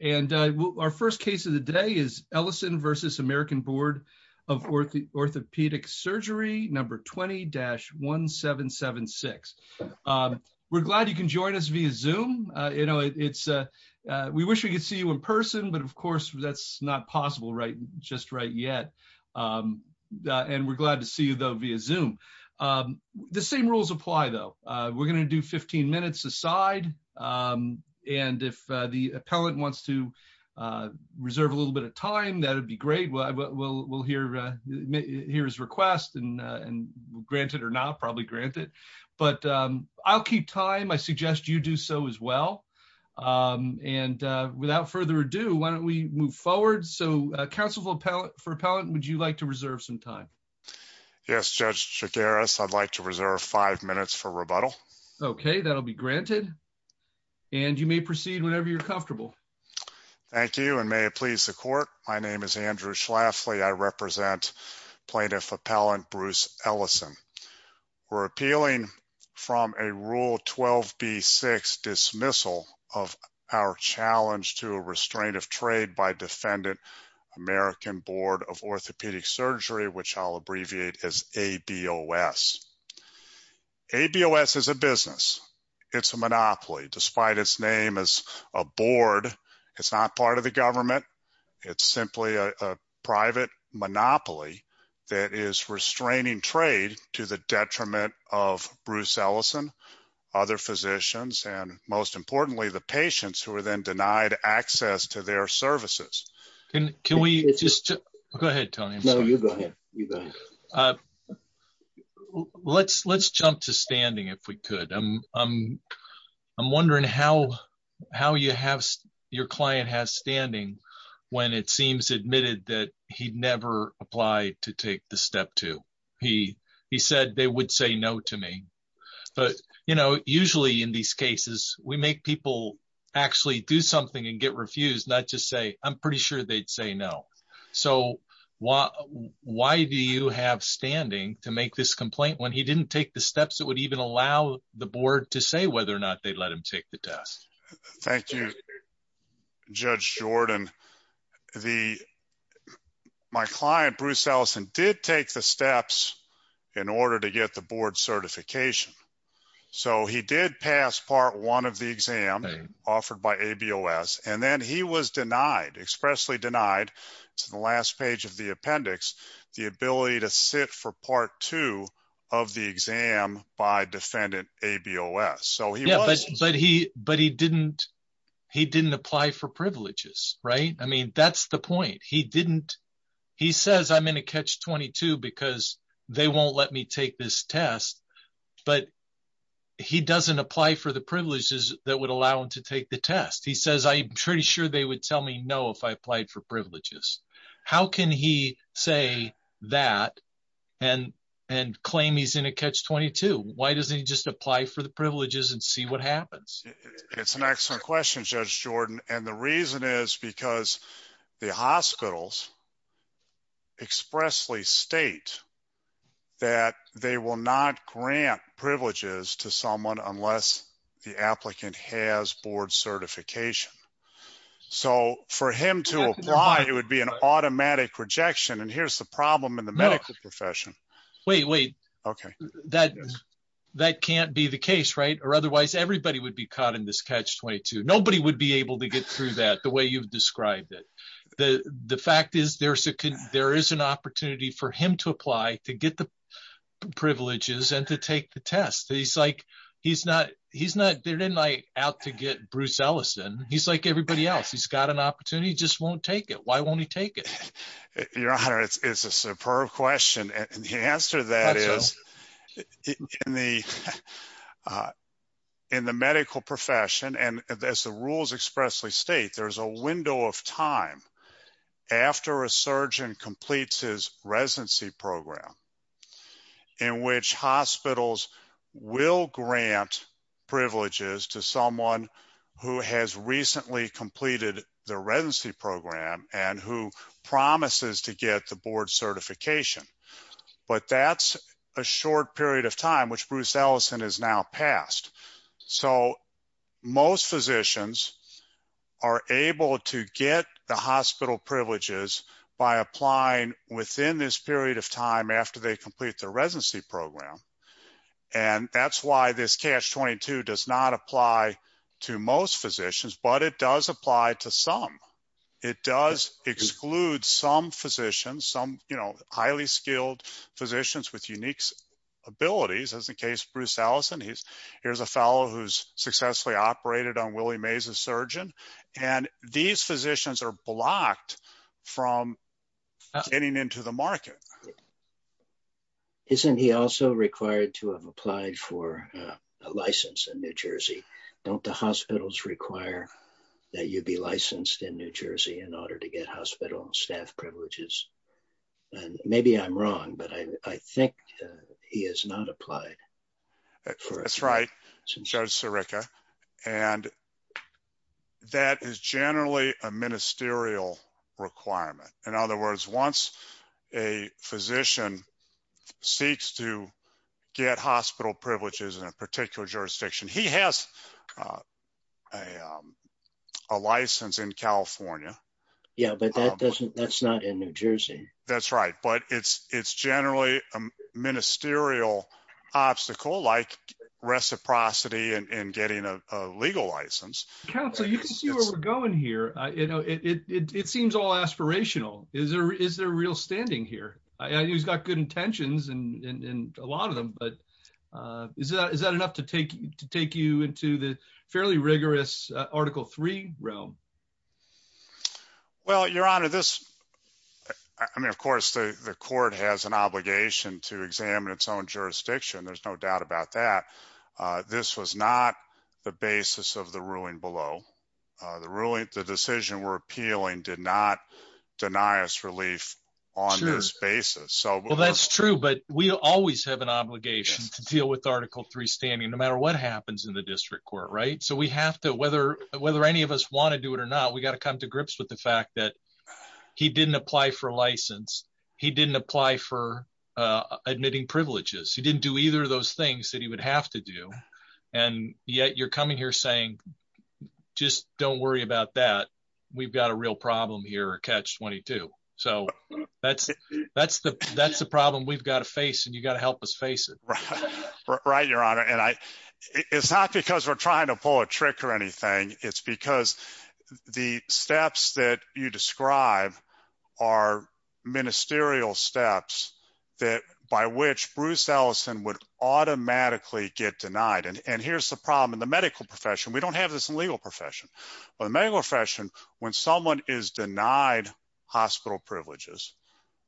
and our first case of the day is Ellison v. American Board of Orthopaedic Surgery, number 20-1776. We're glad you can join us via Zoom. We wish we could see you in person, but of course that's not possible just right yet, and we're glad to see you though via Zoom. The same rules apply though. We're going to do 15 minutes a side, and if the appellant wants to reserve a little bit of time, that'd be great. We'll hear his request and grant it or not, probably grant it, but I'll keep time. I suggest you do so as well, and without further ado, why don't we move forward. So, for appellant, would you like to reserve some time? Yes, Judge Chigares, I'd like to reserve five minutes for rebuttal. Okay, that'll be granted, and you may proceed whenever you're comfortable. Thank you, and may it please the court. My name is Andrew Schlafly. I represent Plaintiff Appellant Bruce Ellison. We're appealing from a Rule 12b-6 dismissal of our challenge to restraint of trade by Defendant American Board of Orthopedic Surgery, which I'll abbreviate as ABOS. ABOS is a business. It's a monopoly. Despite its name as a board, it's not part of the government. It's simply a private monopoly that is restraining trade to the detriment of Bruce Ellison, other physicians, and most importantly, the patients who are then denied access to their services. Can we just... Go ahead, Tony. No, you go ahead. Let's jump to standing, if we could. I'm wondering how your client has standing when it seems admitted that he'd never applied to take the Step 2. He said they would say no to me, but usually in these cases, we make people actually do something and get refused, not just say, I'm pretty sure they'd say no. So why do you have standing to make this complaint when he didn't take the steps that would even allow the board to say whether or not they'd let him take the test? Thank you, Judge Jordan. My client, Bruce Ellison, did take the steps in order to get the board certification. So he did pass Part 1 of the exam offered by ABOS, and then he was denied, expressly denied, it's in the last page of the appendix, the ability to sit for Part 2 of the exam by defendant ABOS. But he didn't apply for privileges, right? I mean, that's the point. He didn't... He says, I'm in a Catch-22 because they won't let me take this test, but he doesn't apply for the privileges that would allow him to take the test. He says, I'm pretty sure they would tell me no if I applied for privileges. How can he say that and claim he's in a Catch-22? Why doesn't he just apply for the privileges and see what happens? It's an excellent question, Judge Jordan. And the reason is because the hospitals expressly state that they will not grant privileges to someone unless the applicant has board certification. So for him to apply, it would be an case, right? Or otherwise everybody would be caught in this Catch-22. Nobody would be able to get through that the way you've described it. The fact is there is an opportunity for him to apply to get the privileges and to take the test. He's like, he's not out to get Bruce Ellison. He's like everybody else. He's got an opportunity, he just won't take it. Why won't he take it? In the medical profession and as the rules expressly state, there's a window of time after a surgeon completes his residency program in which hospitals will grant privileges to someone who has recently completed the residency program and who promises to get the board certification. But that's a short period of time, which Bruce Ellison has now passed. So most physicians are able to get the hospital privileges by applying within this period of time after they complete their residency program. And that's why this Catch-22 does not apply to most physicians, but it does apply to some. It does exclude some physicians, some, you know, highly skilled physicians with unique abilities, as in case Bruce Ellison, here's a fellow who's successfully operated on Willie Mays, a surgeon, and these physicians are blocked from getting into the market. Isn't he also required to have applied for a license in New Jersey? Don't the hospitals require that you be licensed in New Jersey in order to get hospital staff privileges? And maybe I'm wrong, but I think he has not applied. That's right, Judge Sirica. And that is generally a ministerial requirement. In other words, once a physician seeks to get hospital privileges in a particular jurisdiction, he has a license in California. Yeah, but that's not in New Jersey. That's right. But it's generally a ministerial obstacle like reciprocity and getting a legal license. Counsel, you can see where we're going here. You know, it seems all aspirational. Is there real standing here? He's got good intentions in a lot of them. But is that enough to take you into the fairly rigorous Article III realm? Well, Your Honor, this, I mean, of course, the court has an obligation to examine its own jurisdiction. There's no doubt about that. This was not the basis of the ruling below. The ruling, the decision we're appealing did not deny us relief on this basis. Well, that's true. But we always have an obligation to deal with Article III standing, no matter what happens in the district court, right? So we have to, whether any of us want to do it or not, we got to come to grips with the fact that he didn't apply for a license. He didn't apply for admitting privileges. He didn't do either of those things that he would have to do. And yet you're coming here saying, just don't worry about that. We've got a real problem here, Catch-22. So that's the problem we've got to face, and you got to help us face it. Right, Your Honor. And it's not because we're trying to pull a trick or anything. It's because the steps that you describe are ministerial steps by which Bruce Ellison would automatically get denied. And here's the problem in the medical profession. We don't have this in the legal profession. But the medical profession, when someone is denied hospital privileges,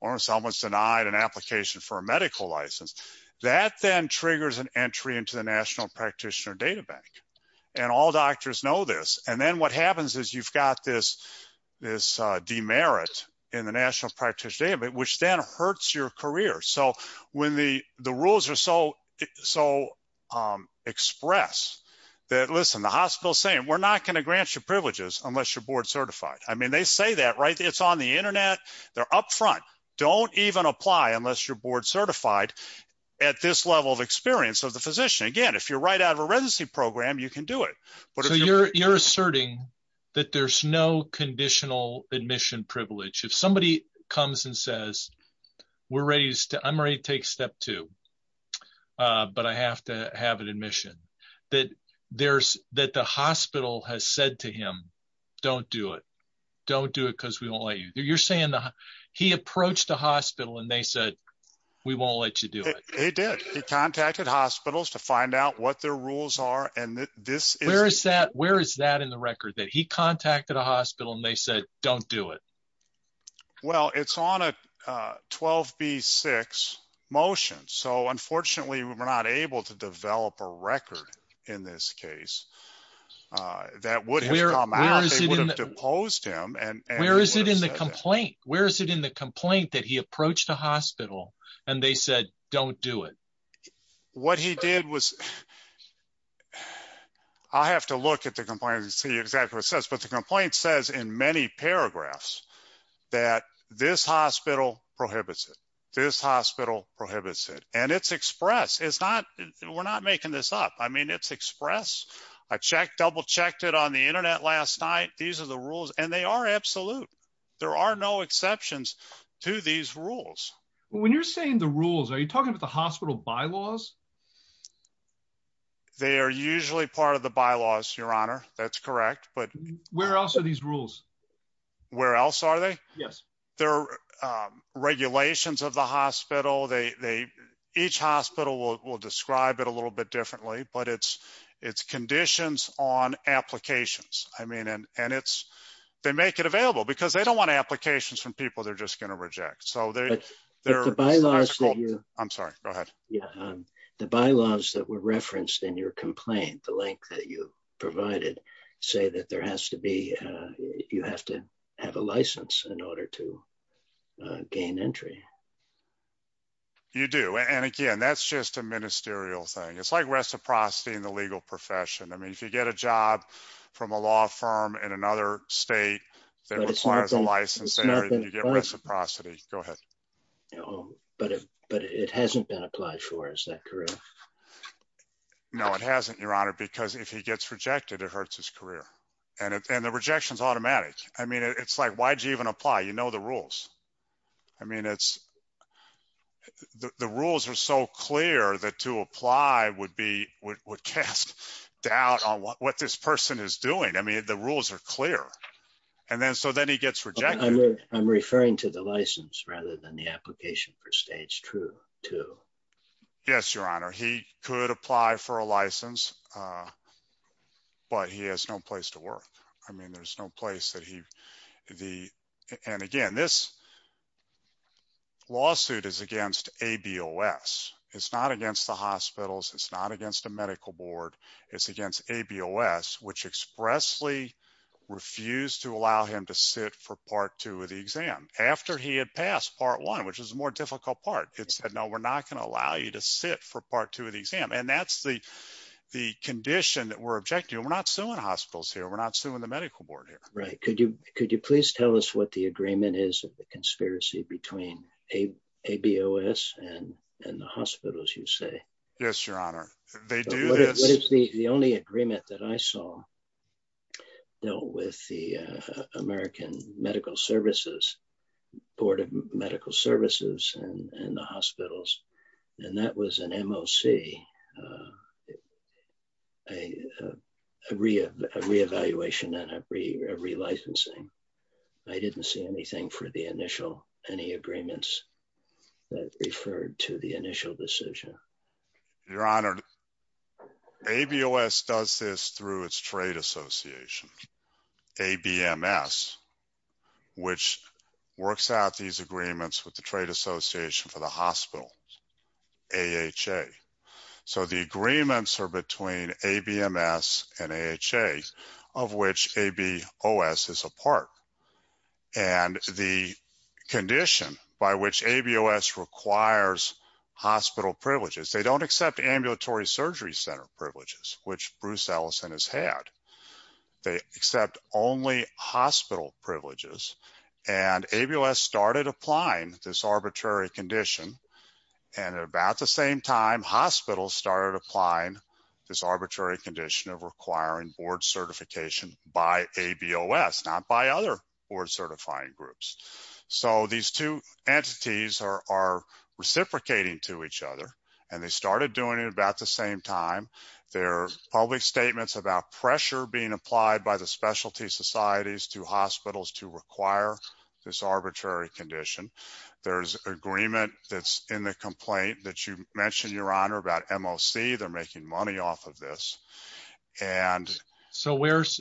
or someone's denied an application for a medical license, that then triggers an entry into the National Practitioner Data Bank. And all doctors know this. And then what happens is you've got this demerit in the National Practitioner Data Bank, which then hurts your career. So when the rules are so expressed that, listen, the hospital's saying, we're not going to grant you privileges unless you're board certified. I mean, they say that, right? It's on the internet. They're up front. Don't even apply unless you're board certified at this level of experience of the physician. Again, if you're right out of a residency program, you can do it. So you're asserting that there's no conditional admission privilege. If somebody comes and says, we're ready. I'm ready to take step two. But I have to have an admission that the hospital has said to him, don't do it. Don't do it because we won't let you. You're saying he approached the hospital and they said, we won't let you do it. He did. He contacted hospitals to find out what their rules are. Where is that in the record? That he contacted a hospital and they said, don't do it. Well, it's on a 12 B six motion. So unfortunately we're not able to develop a record in this case that would have deposed him. And where is it in the complaint? Where is it in the complaint that he approached the hospital and they said, don't do it. What he did was I have to look at the complaint and see exactly what it says. But the complaint says in many paragraphs that this hospital prohibits it. This hospital prohibits it. And it's expressed. It's not, we're not making this up. I mean, it's express a check, double checked it on the internet last night. These are the rules and they are absolute. There are no exceptions to these rules. When you're saying the rules, are you talking about the hospital bylaws? They are usually part of the bylaws, your honor. That's correct. But where else are these rules? Where else are they? Yes. They're regulations of the hospital. They, they, each hospital will describe it a little bit differently, but it's, it's conditions on applications. I mean, and, and it's, they make it available because they don't want applications from people. They're just going to reject. So they're, they're, I'm sorry, go ahead. The bylaws that were referenced in your complaint, the link that you provided, say that there has to be, you have to have a license in order to gain entry. You do. And again, that's just a ministerial thing. It's like reciprocity in the legal profession. I mean, if you get a job from a law firm in another state that requires a career. No, it hasn't your honor, because if he gets rejected, it hurts his career and the rejections automatic. I mean, it's like, why'd you even apply? You know, the rules. I mean, it's the rules are so clear that to apply would be would cast doubt on what this person is doing. I mean, the rules are clear. And then, so then he gets rejected. I'm referring to the Yes, your honor. He could apply for a license, but he has no place to work. I mean, there's no place that he, the, and again, this lawsuit is against ABOS. It's not against the hospitals. It's not against a medical board. It's against ABOS, which expressly refused to allow him to sit for part two of the exam after he had passed part one, which was a more difficult part. It sit for part two of the exam. And that's the, the condition that we're objecting. We're not suing hospitals here. We're not suing the medical board here. Right. Could you, could you please tell us what the agreement is of the conspiracy between a ABOS and, and the hospitals you say? Yes, your honor. They do this. The only agreement that I saw, you know, with the American medical services, board of medical services and the hospitals, and that was an MOC, a re-evaluation and a re-licensing. I didn't see anything for the initial, any agreements that referred to the initial decision. Your honor, ABOS does this through its trade association, ABMS, which works out these agreements with the trade association for the hospital AHA. So the agreements are between ABMS and AHA of which ABOS is a part. And the condition by which ABOS requires hospital privileges, they don't accept ambulatory surgery center privileges, which Bruce Ellison has had. They accept only hospital privileges and ABOS started applying this arbitrary condition. And at about the same time, hospitals started applying this arbitrary condition of requiring board certification by ABOS, not by other board certifying groups. So these two entities are reciprocating to each other and they started doing it about the same time. Their public statements about pressure being applied by the specialty societies to hospitals to require this arbitrary condition. There's an agreement that's in the complaint that you mentioned your honor about MOC. They're making money off of this. And so where's,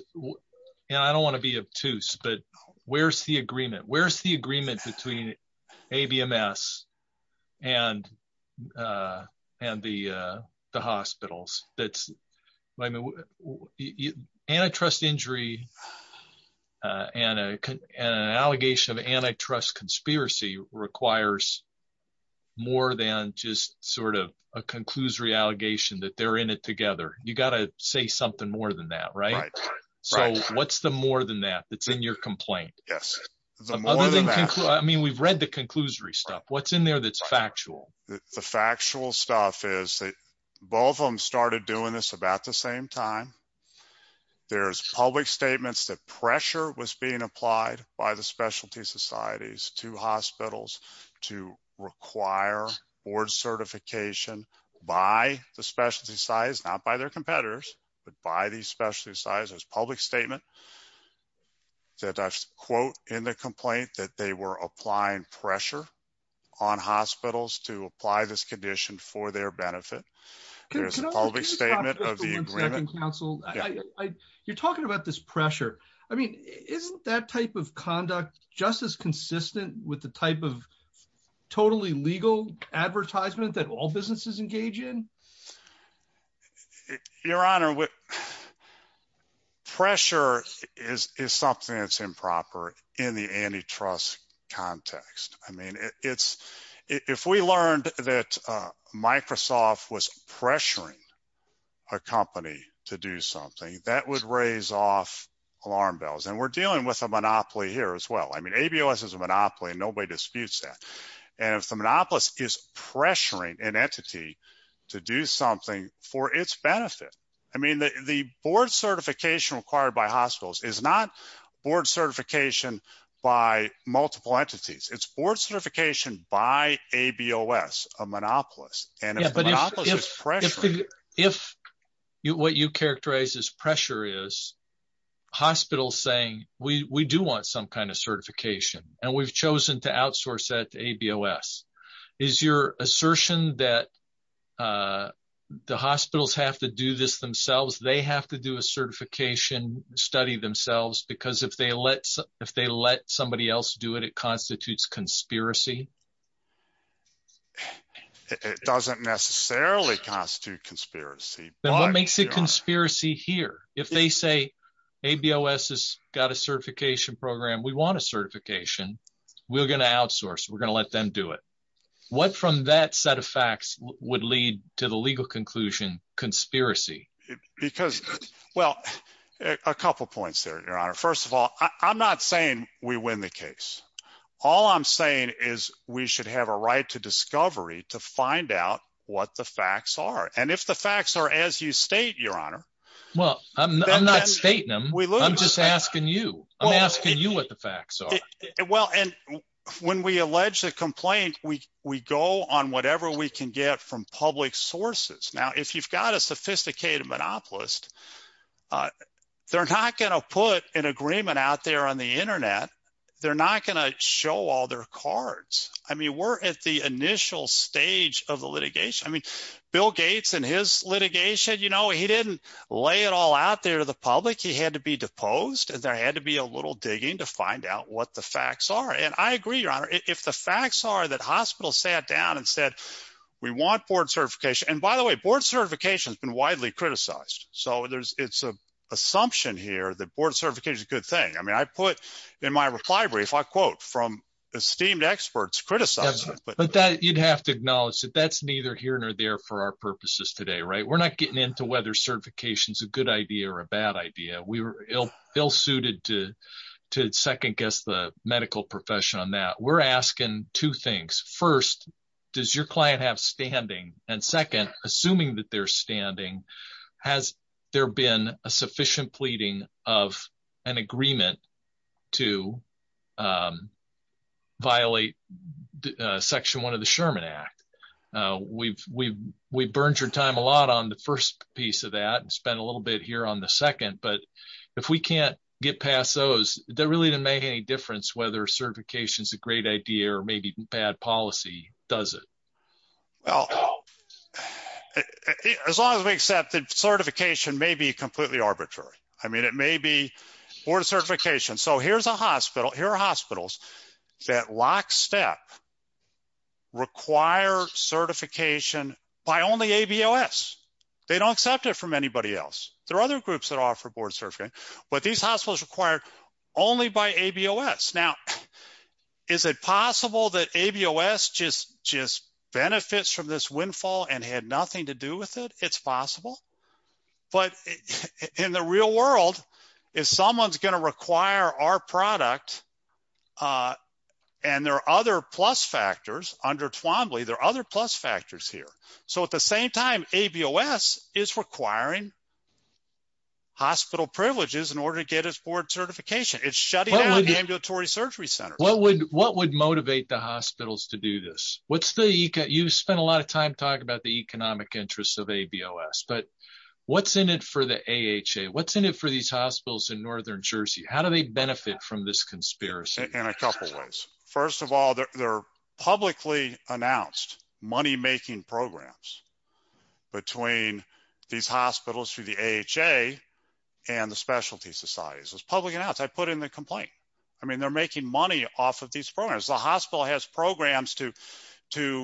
and I don't want to be obtuse, but where's the agreement? Where's the agreement between ABMS and the hospitals that's, I mean, antitrust injury and an allegation of antitrust conspiracy requires more than just sort of a conclusory allegation that they're in it together. You got to say something more than that, right? So what's the more than that that's in your complaint? Yes. I mean, we've read the conclusory stuff. What's in there that's factual? The factual stuff is that both of them started doing this about the same time. There's public statements that pressure was being applied by the specialty societies to hospitals to require board certification by the specialty size, not by their competitors, but by these specialty sizes, public statement that I quote in the complaint that they were applying pressure on hospitals to apply this condition for their benefit. There's a public statement of the agreement. You're talking about this pressure. I mean, isn't that type of conduct just as consistent with the type of totally legal advertisement that all businesses engage in? Your Honor, pressure is something that's improper in the antitrust context. I mean, if we learned that Microsoft was pressuring a company to do something, that would raise off alarm bells. And we're dealing with a monopoly here as well. I mean, ABOS is a monopoly, nobody disputes that. And if the monopolist is pressuring an entity to do something for its benefit, I mean, the board certification required by hospitals is not board certification by multiple entities. It's board certification by ABOS, a monopolist. And if the monopolist is pressuring- If what you characterize as pressure is, hospitals saying, we do want some kind of certification and we've chosen to outsource that to ABOS. Is your assertion that the hospitals have to do this themselves? They have to do a certification study themselves because if they let somebody else do it, it constitutes conspiracy? It doesn't necessarily constitute conspiracy. Then what makes it conspiracy here? If they say, ABOS has got a certification program, we want a certification, we're going to outsource, we're going to let them do it. What from that set of facts would lead to the legal conclusion, conspiracy? Because, well, a couple of points there, Your Honor. First of all, I'm not saying we win the case. All I'm saying is we should have a right to discovery to find out what the facts are. And if facts are as you state, Your Honor- Well, I'm not stating them. I'm just asking you. I'm asking you what the facts are. Well, and when we allege a complaint, we go on whatever we can get from public sources. Now, if you've got a sophisticated monopolist, they're not going to put an agreement out there on the internet. They're not going to show all their cards. I mean, we're at the initial stage of the litigation. I mean, Bill Gates in his litigation, you know, he didn't lay it all out there to the public. He had to be deposed and there had to be a little digging to find out what the facts are. And I agree, Your Honor, if the facts are that hospitals sat down and said, we want board certification. And by the way, board certification has been widely criticized. So it's an assumption here that board certification is a good thing. I mean, I put in my reply brief, I quote from esteemed experts criticized- But that you'd have to acknowledge that that's neither here nor there for our purposes today, right? We're not getting into whether certification is a good idea or a bad idea. We were ill suited to second guess the medical profession on that. We're asking two things. First, does your client have standing? And second, assuming that they're standing, has there been a sufficient pleading of an agreement to violate section one of the Sherman Act? We've burned your time a lot on the first piece of that and spent a little bit here on the second. But if we can't get past those, that really didn't make any difference whether certification is a great idea or maybe bad policy, does it? Well, as long as we accept that certification may be completely arbitrary. I mean, it may be board certification. So here's a hospital, here are hospitals that lockstep require certification by only ABOS. They don't accept it from anybody else. There are other groups that offer board certification, but these hospitals require only by ABOS. Now, is it possible that ABOS just benefits from this windfall and had nothing to do with it? It's possible, but in the real world, if someone's going to require our product and there are other plus factors under Twombly, there are other plus factors here. So at the same time, ABOS is requiring hospital privileges in order to get his board certification. It's shutting down ambulatory surgery center. What would motivate the hospitals to do this? You've spent a lot of time talking about the economic interests of ABOS, but what's in it for the AHA? What's in it for these hospitals in Northern Jersey? How do they benefit from this conspiracy? In a couple of ways. First of all, they're publicly announced money-making programs between these hospitals through the AHA and the specialty societies. It was publicly announced. I put in the complaint. I mean, they're making money off of these programs. The hospital has to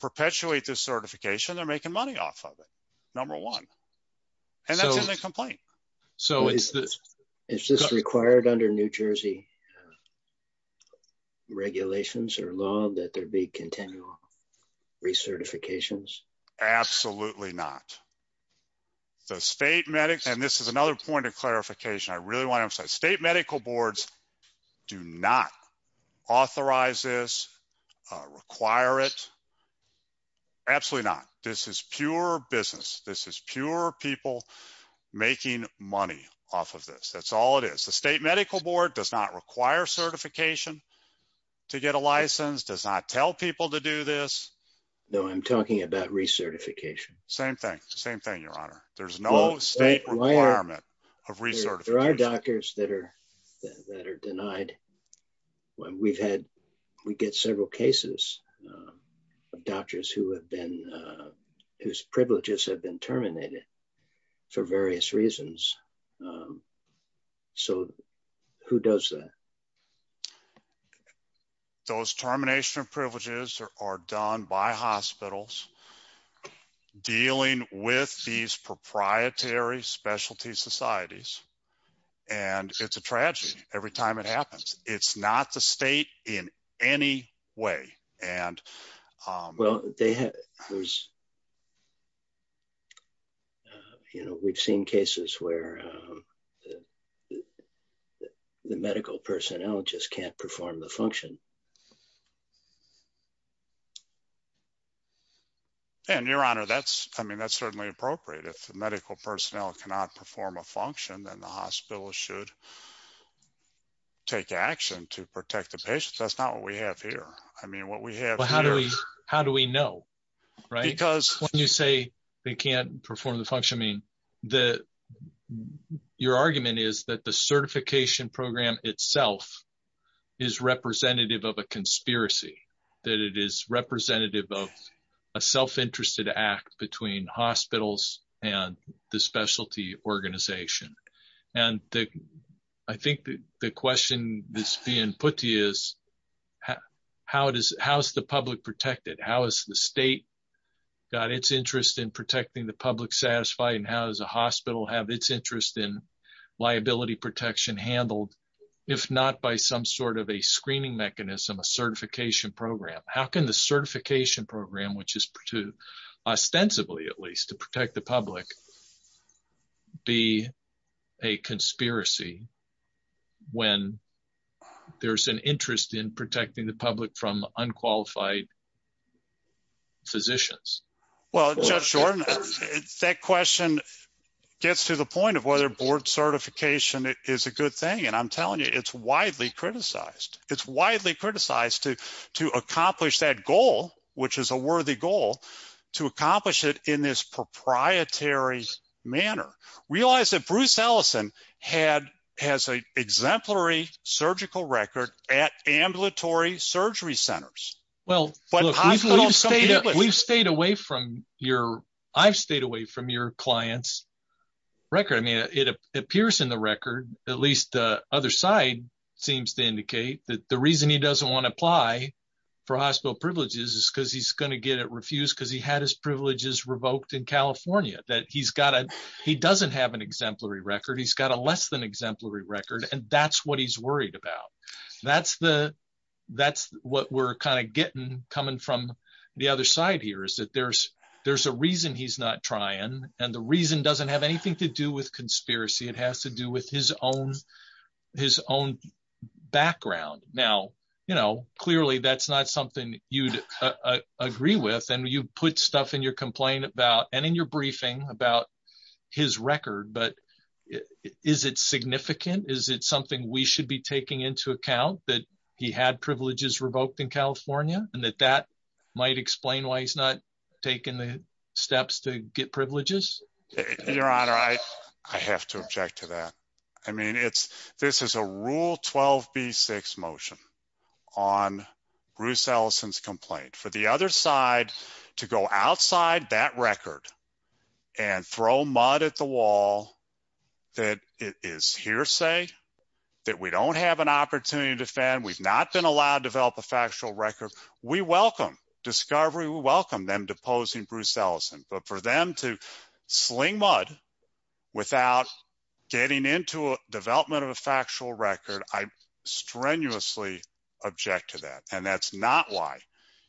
perpetuate this certification. They're making money off of it, number one, and that's in the complaint. So is this required under New Jersey regulations or law that there be continual recertifications? Absolutely not. The state medics, and this is another point of clarification. I really want to say state medical boards do not authorize this, require it. Absolutely not. This is pure business. This is pure people making money off of this. That's all it is. The state medical board does not require certification to get a license, does not tell people to do this. No, I'm talking about recertification. Same thing. Same thing, your honor. There's no state requirement of recertification. There are doctors that are denied. We get several cases of doctors whose privileges have been terminated for various reasons. So who does that? Those termination of privileges are done by the state. It's a tragedy every time it happens. It's not the state in any way. We've seen cases where the medical personnel just can't perform the function. And your honor, that's certainly appropriate. If the medical personnel cannot perform a function, then the hospital should take action to protect the patients. That's not what we have here. How do we know? When you say they can't perform the function, your argument is that the certification program itself is representative of a conspiracy, that it is representative of a self-interested act between hospitals and the specialty organization. I think the question that's being put to you is, how is the public protected? How is the state got its interest in protecting the public satisfied? And how does a hospital have its interest in liability protection handled, if not by some sort of a screening mechanism, a certification program? How can the certification program, which is to ostensibly, at least to protect the public, be a conspiracy when there's an interest in protecting the public from unqualified physicians? Well, Judge Jordan, that question gets to the point of whether board certification is a good thing. And I'm telling you, it's widely criticized. It's widely criticized to accomplish that goal, which is a worthy goal, to accomplish it in this proprietary manner. Realize that Bruce Ellison has an exemplary surgical record at ambulatory surgery centers. Well, we've stayed away from your, I've stayed away from your client's record. I mean, it appears in the record, at least the other side seems to indicate that the reason he doesn't want to apply for hospital privileges is because he's going to get it refused because he had his privileges revoked in California. He doesn't have an exemplary record. He's got a less than coming from the other side here is that there's a reason he's not trying. And the reason doesn't have anything to do with conspiracy. It has to do with his own background. Now, clearly, that's not something you'd agree with. And you put stuff in your complaint about, and in your briefing about his record, but is it significant? Is it something we should be taking into account that he had privileges revoked in California and that that might explain why he's not taking the steps to get privileges? Your honor, I have to object to that. I mean, it's, this is a rule 12 B six motion on Bruce Ellison's complaint for the other side to go outside that record and throw mud at the wall that it is hearsay that we don't have an opportunity to defend. We've not been allowed to develop a factual record. We welcome discovery. We welcome them deposing Bruce Ellison, but for them to sling mud without getting into a development of a factual record, I strenuously object to that. And that's not why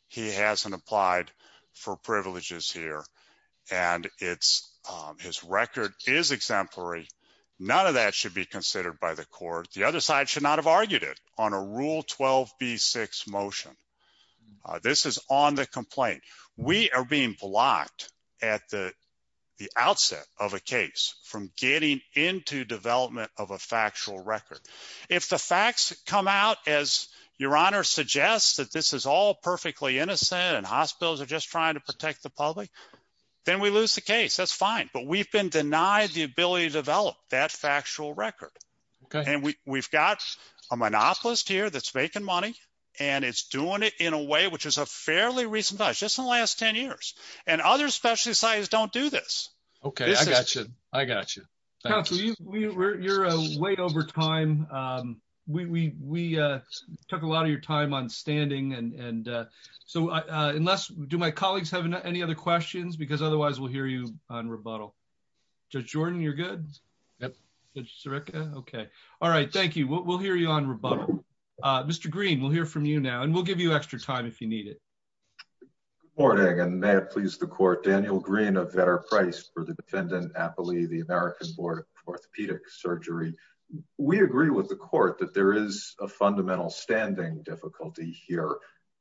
he hasn't applied for privileges here. And it's, um, his record is exemplary. None of that should be considered by the court. The other side should not have argued it on a rule 12 B six motion. Uh, this is on the complaint. We are being blocked at the, the outset of a case from getting into development of a factual record. If the facts come out as your honor suggests that this is all perfectly innocent and hospitals are trying to protect the public, then we lose the case. That's fine. But we've been denied the ability to develop that factual record. And we we've got a monopolist here that's making money and it's doing it in a way, which is a fairly recent, just in the last 10 years and other specialty sites don't do this. Okay. I got you. I got you. You're a way over time. Um, we, we, uh, took a lot of your time on standing and, and, uh, so, uh, uh, unless do my colleagues have any other questions because otherwise we'll hear you on rebuttal. Judge Jordan, you're good. Yep. Okay. All right. Thank you. We'll, we'll hear you on rebuttal. Uh, Mr. Green, we'll hear from you now and we'll give you extra time if you need it. Good morning. And may it please the court, Daniel green, a better price for the defendant, happily, the American board of orthopedic surgery. We agree with the court that there is a fundamental standing difficulty here.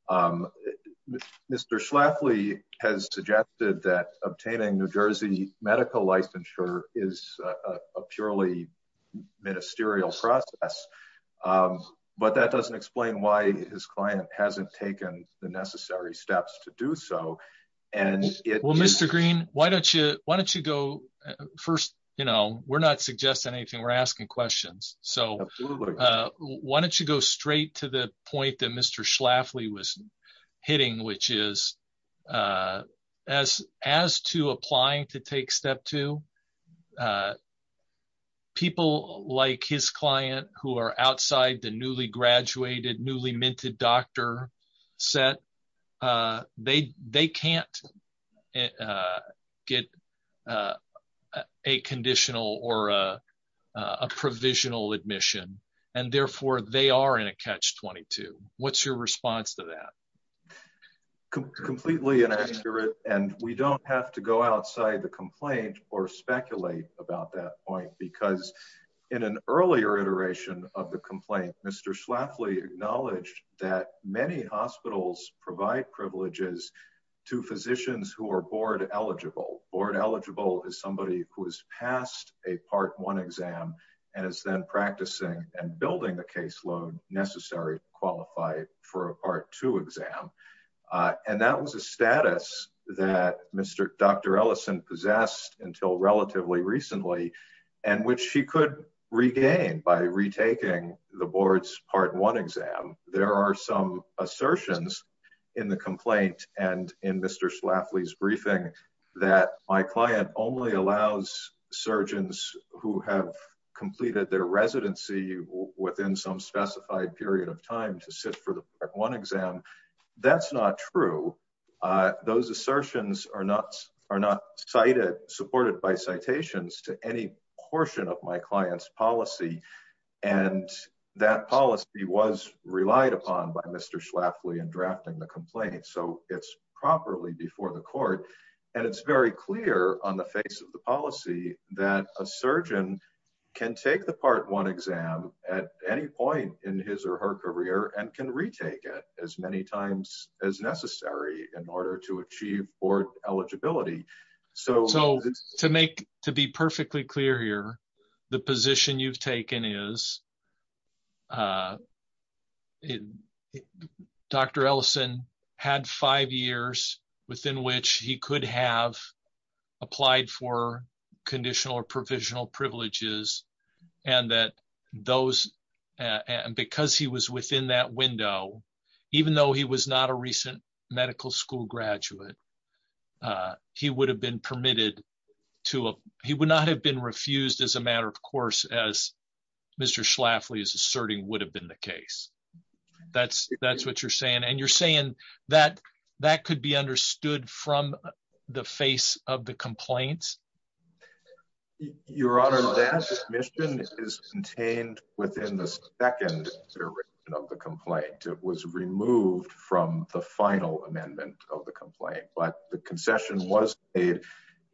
Um, Mr. Schlafly has suggested that obtaining New Jersey medical licensure is a purely ministerial process. Um, but that doesn't explain why his client hasn't taken the necessary steps to do so. And well, Mr. Green, why don't you, why don't you go first? You know, we're not suggesting anything. We're asking questions. So, uh, why don't you go straight to the point that Mr. Schlafly was hitting, which is, uh, as, as to applying to take step two, uh, people like his client who are outside the newly graduated, newly minted doctor set, uh, they, they can't, uh, get, uh, uh, a conditional or, uh, uh, a provisional admission. And therefore they are in a catch 22. What's your response to that? Completely inaccurate. And we don't have to go outside the complaint or speculate about that point because in an earlier iteration of the complaint, Mr. Schlafly acknowledged that many hospitals provide privileges to physicians who are board eligible board eligible is somebody who has passed a part one exam and is then practicing and building the caseload necessary to qualify for a part two exam. Uh, and that was a status that Mr. Dr. Ellison possessed until relatively recently, and which she could regain by retaking the board's part one exam. There are some assertions in the complaint and in Mr. Schlafly's briefing that my client only allows surgeons who have completed their residency within some specified period of time to sit for the one exam. That's not true. Uh, those assertions are not, are not cited supported by citations to any portion of my client's policy. And that policy was relied upon by Mr. Schlafly and drafting the complaint. So it's properly before the court. And it's very clear on the face of the policy that a surgeon can take the part one exam at any point in his or her career and can retake it as many times as necessary in order to achieve board eligibility. So to make, to be perfectly clear here, the position you've taken is, uh, Dr. Ellison had five years within which he could have applied for conditional or provisional privileges. And that those, uh, and because he was within that window, even though he was not a recent medical school graduate, uh, he would have been permitted to, uh, he would not have been refused as a matter of course, as Mr. Schlafly is asserting would have been the case. That's, that's what you're saying. And you're saying that that could be understood from the face of the complaints. Your Honor, that admission is contained within the second iteration of the complaint. It was removed from the final amendment of the complaint, but the concession was paid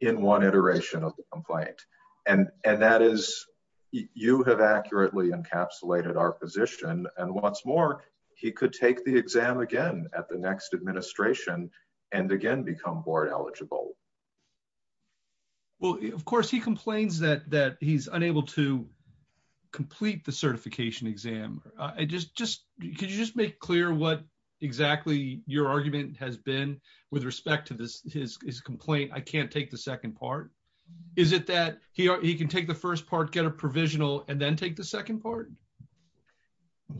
in one iteration of the complaint. And, and that is you have accurately encapsulated our position. And once more, he could take the exam again at the next administration and again, become board eligible. Well, of course he complains that, that he's unable to complete the certification exam. I just, just, could you just make clear what exactly your argument has been with respect to this, his complaint? I can't take the second part. Is it that he can take the first part, get a provisional and then take the second part?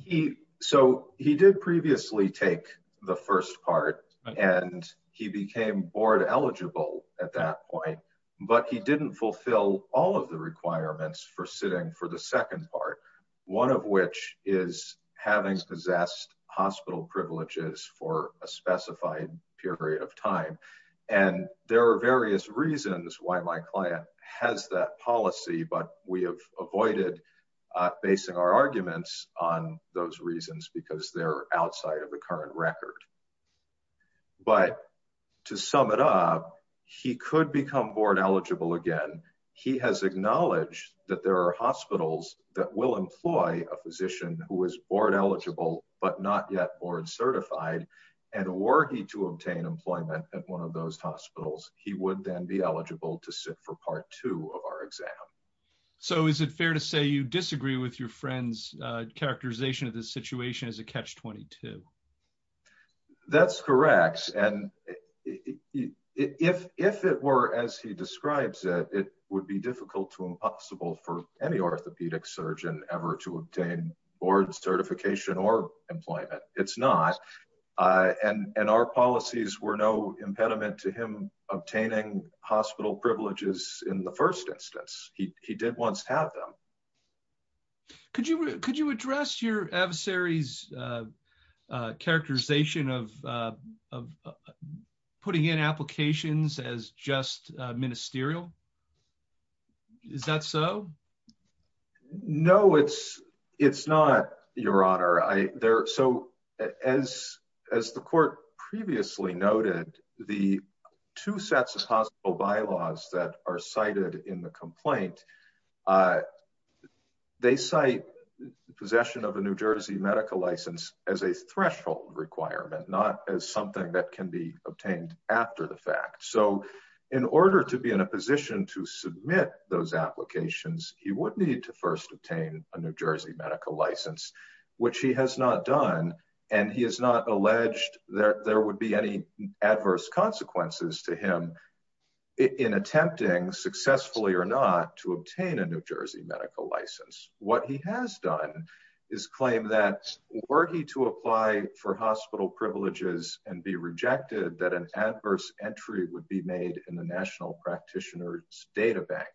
He, so he did previously take the first part and he became board eligible at that point, but he didn't fulfill all of the requirements for sitting for the second part. One of which is having possessed hospital privileges for a specified period of time. And there are various reasons why my client has that policy, but we have avoided basing our arguments on those reasons because they're outside of the current record. But to sum it up, he could become board eligible again. He has acknowledged that there are hospitals that will employ a physician who is board eligible, but not yet board certified. And were he to obtain employment at one of those hospitals, he would then be eligible to sit for part two of our exam. So is it fair to say you disagree with your friend's characterization of this situation as a catch-22? That's correct. And if it were, as he describes it, it would be difficult to impossible for any orthopedic surgeon ever to obtain board certification or employment. It's not. And our policies were no impediment to him obtaining hospital privileges in the first instance. He did once have them. Could you address your adversary's characterization of putting in applications as just ministerial? Is that so? No, it's not, Your Honor. So as the court previously noted, the two sets of hospital bylaws that are cited in the complaint, they cite possession of a New Jersey medical license as a threshold requirement, not as something that can be obtained after the fact. So in order to be in a position to submit those applications, he would need to first obtain a New Jersey medical license, which he has not done. And he has not alleged that there would be any adverse consequences to him in attempting successfully or not to obtain a New Jersey medical license. What he has done is claim that were he to apply for hospital privileges and be rejected that an adverse entry would be made in the National Practitioner's Data Bank.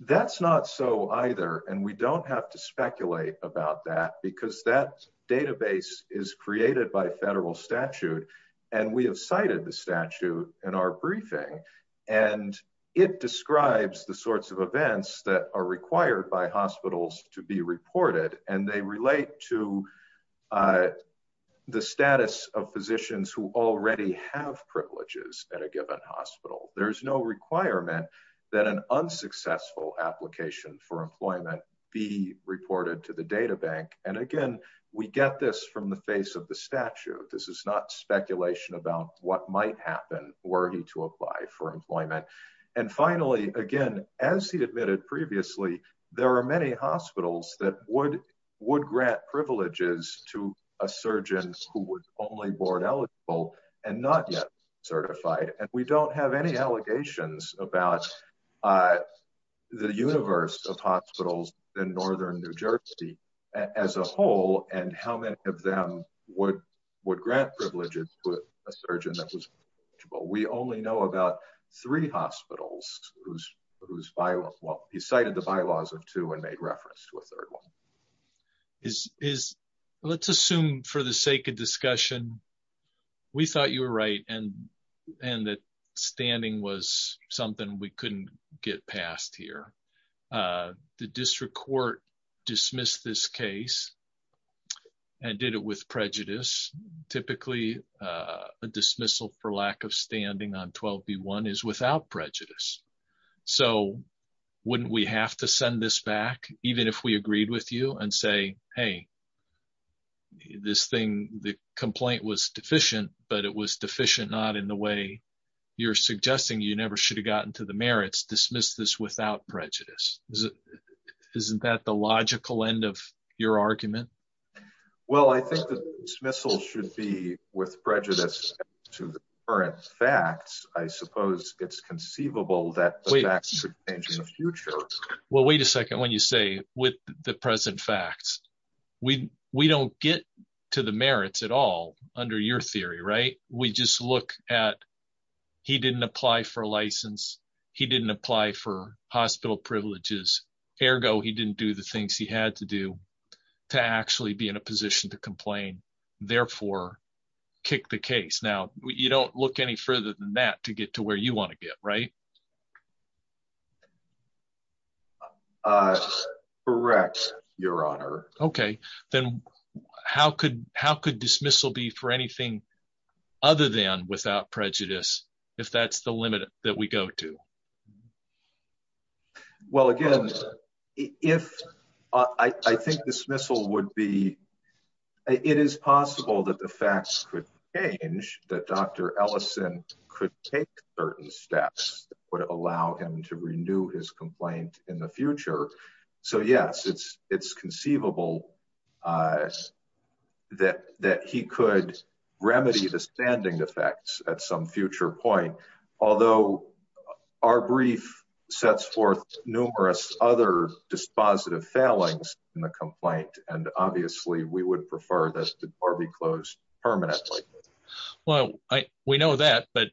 That's not so either. And we don't have to speculate about that because that database is created by federal statute. And we have cited the statute in our briefing. And it describes the sorts of events that are required by hospitals to be reported. And they relate to the status of physicians who already have privileges at a given hospital. There is no requirement that an unsuccessful application for employment be reported to the data bank. And again, we get this from the face of the statute. This is not speculation about what might happen were he to apply for employment. And finally, again, as he admitted previously, there are many hospitals that would grant privileges to a surgeon who was only board eligible and not yet certified. And we don't have any allegations about the universe of hospitals in northern New Jersey as a whole, and how many of them would grant privileges to a surgeon that was eligible. We only know about three hospitals whose, well, he cited the bylaws of two and made reference to a third one. Is, let's assume for the sake of discussion, we thought you were right and that standing was something we couldn't get past here. The district court dismissed this case and did it with prejudice. Typically, a dismissal for lack of standing on 12B1 is without prejudice. So wouldn't we have to send this back, even if we agreed with you and say, hey, this thing, the complaint was deficient, but it was deficient not in the way you're suggesting you never should have gotten to the merits, dismiss this without prejudice. Isn't that the logical end of your argument? Well, I think the dismissal should be with prejudice to the current facts. I suppose it's conceivable that the facts should change in the future. Well, wait a second. When you say with the present facts, we don't get to the merits at all under your theory, right? We just look at, he didn't apply for a license. He didn't apply for hospital privileges. Ergo, he didn't do the things he had to do to actually be in a position to case. Now you don't look any further than that to get to where you want to get, right? Correct, your honor. Okay. Then how could dismissal be for anything other than without prejudice, if that's the limit that we go to? Well, again, if I think dismissal would be, it is possible that the facts could change, that Dr. Ellison could take certain steps that would allow him to renew his complaint in the future. So yes, it's conceivable that he could remedy the standing effects at some future point. Although our brief sets forth numerous other dispositive failings in the complaint. And obviously we would prefer that to be closed permanently. Well, we know that, but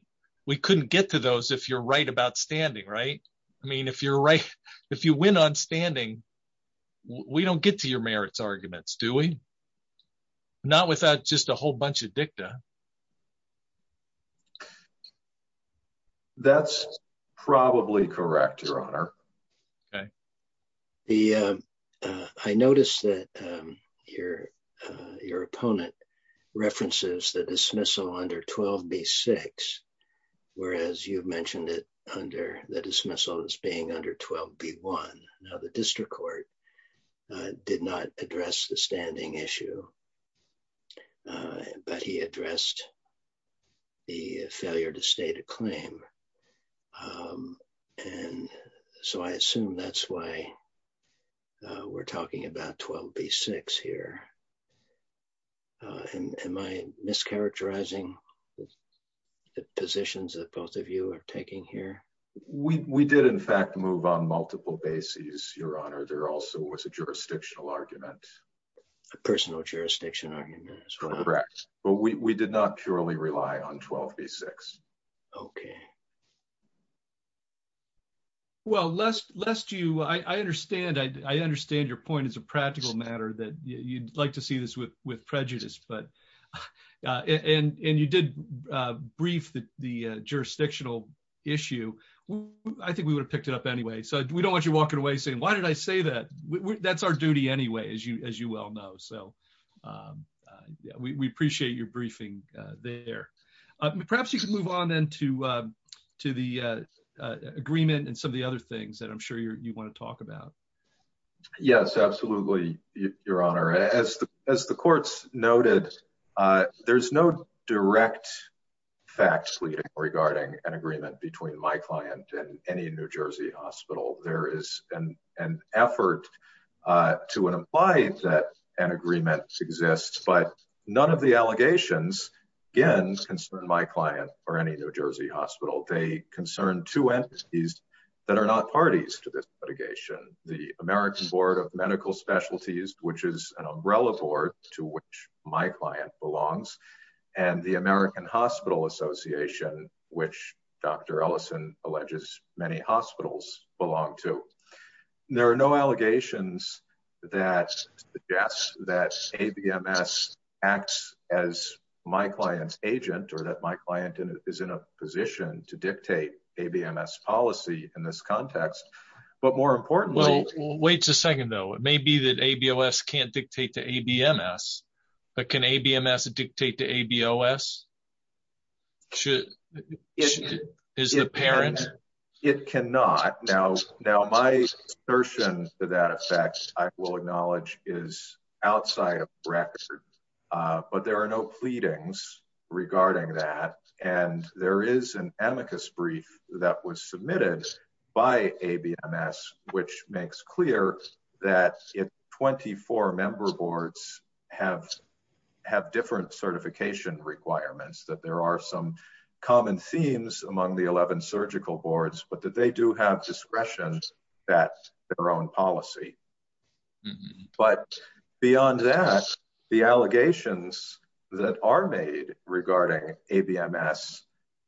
we couldn't get to those if you're right about standing, right? I mean, if you're right, if you win on standing, we don't get to your merits arguments, do we? Not without just a whole bunch of dicta. That's probably correct, your honor. Okay. I noticed that your opponent references the dismissal under 12B6, whereas you've mentioned it under the dismissal as being under 12B1. Now the district court did not address the standing issue, but he addressed the failure to state a claim. And so I assume that's why we're talking about 12B6 here. Am I mischaracterizing the positions that both of you are taking here? We did in fact move on multiple bases, your honor. There also was a jurisdictional argument. A personal jurisdiction argument. Correct. But we did not purely rely on 12B6. Okay. Well, lest you, I understand your point is a practical matter that you'd like to see this with prejudice, but, and you did brief the jurisdictional issue. I think we would have that. That's our duty anyway, as you well know. So we appreciate your briefing there. Perhaps you can move on then to the agreement and some of the other things that I'm sure you want to talk about. Yes, absolutely, your honor. As the courts noted, there's no direct facts regarding an agreement between my client and any New Jersey hospital. There is an effort to imply that an agreement exists, but none of the allegations, again, concern my client or any New Jersey hospital. They concern two entities that are not parties to this litigation. The American Board of Medical Specialties, which is an umbrella board to which my client belongs, and the American Hospital Association, which Dr. Ellison alleges many hospitals belong to. There are no allegations that suggest that ABMS acts as my client's agent or that my client is in a position to dictate ABMS policy in this context, but more importantly- Well, wait a second though. It may be that ABOS can't dictate to ABMS, but can ABMS dictate to ABOS? Is it apparent? It cannot. Now, my assertion to that effect, I will acknowledge, is outside of the record, but there are no pleadings regarding that. And there is an amicus brief that was submitted by ABMS, which makes clear that if 24 member boards have different certification requirements, that there are some common themes among the 11 surgical boards, but that they do have discretion that their own policy. But beyond that, the allegations that are made regarding ABMS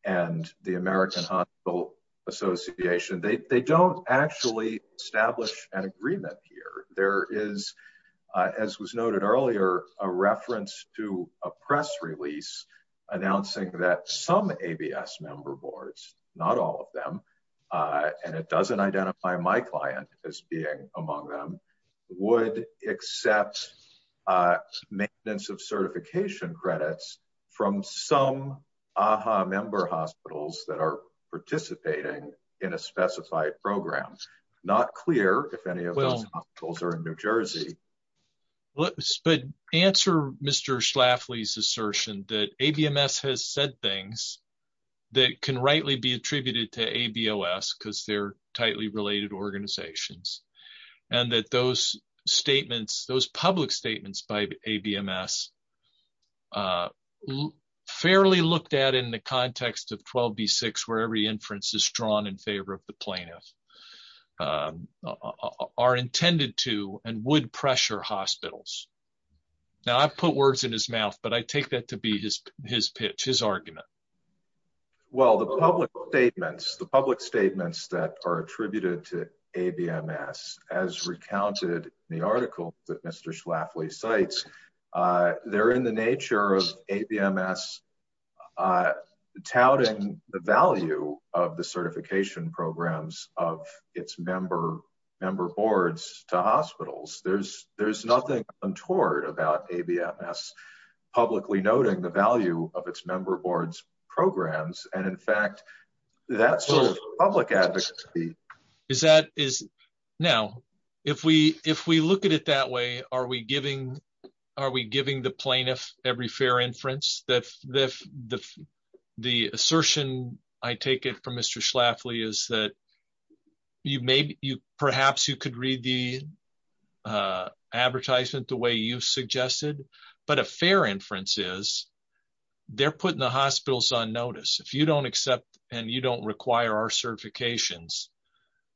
and the American Hospital Association, they don't actually establish an agreement here. There is, as was noted earlier, a reference to a press release announcing that some ABS member boards, not all of them, and it doesn't identify my client as being among them, would accept maintenance of certification credits from some AHA member hospitals that are participating in a specified program. Not clear if any of those hospitals are in New Jersey. But answer Mr. Schlafly's assertion that ABMS has said things that can rightly be attributed to ABOS because they're tightly related organizations, and that those statements, those public statements by ABMS, fairly looked at in the context of 12B6, where every inference is drawn in favor of the plaintiff, are intended to and would pressure hospitals. Now, I've put words in his mouth, but I take that to be his pitch, his argument. Well, the public statements that are attributed to ABMS, as recounted in the article Mr. Schlafly cites, they're in the nature of ABMS touting the value of the certification programs of its member boards to hospitals. There's nothing untoward about ABMS publicly noting the value of its member boards programs, and in fact, that sort of public advocacy... Now, if we look at it that way, are we giving the plaintiff every fair inference? The assertion I take it from Mr. Schlafly is that perhaps you could read the advertisement the way you suggested, but a fair inference is they're putting the hospitals on If you don't accept and you don't require our certifications,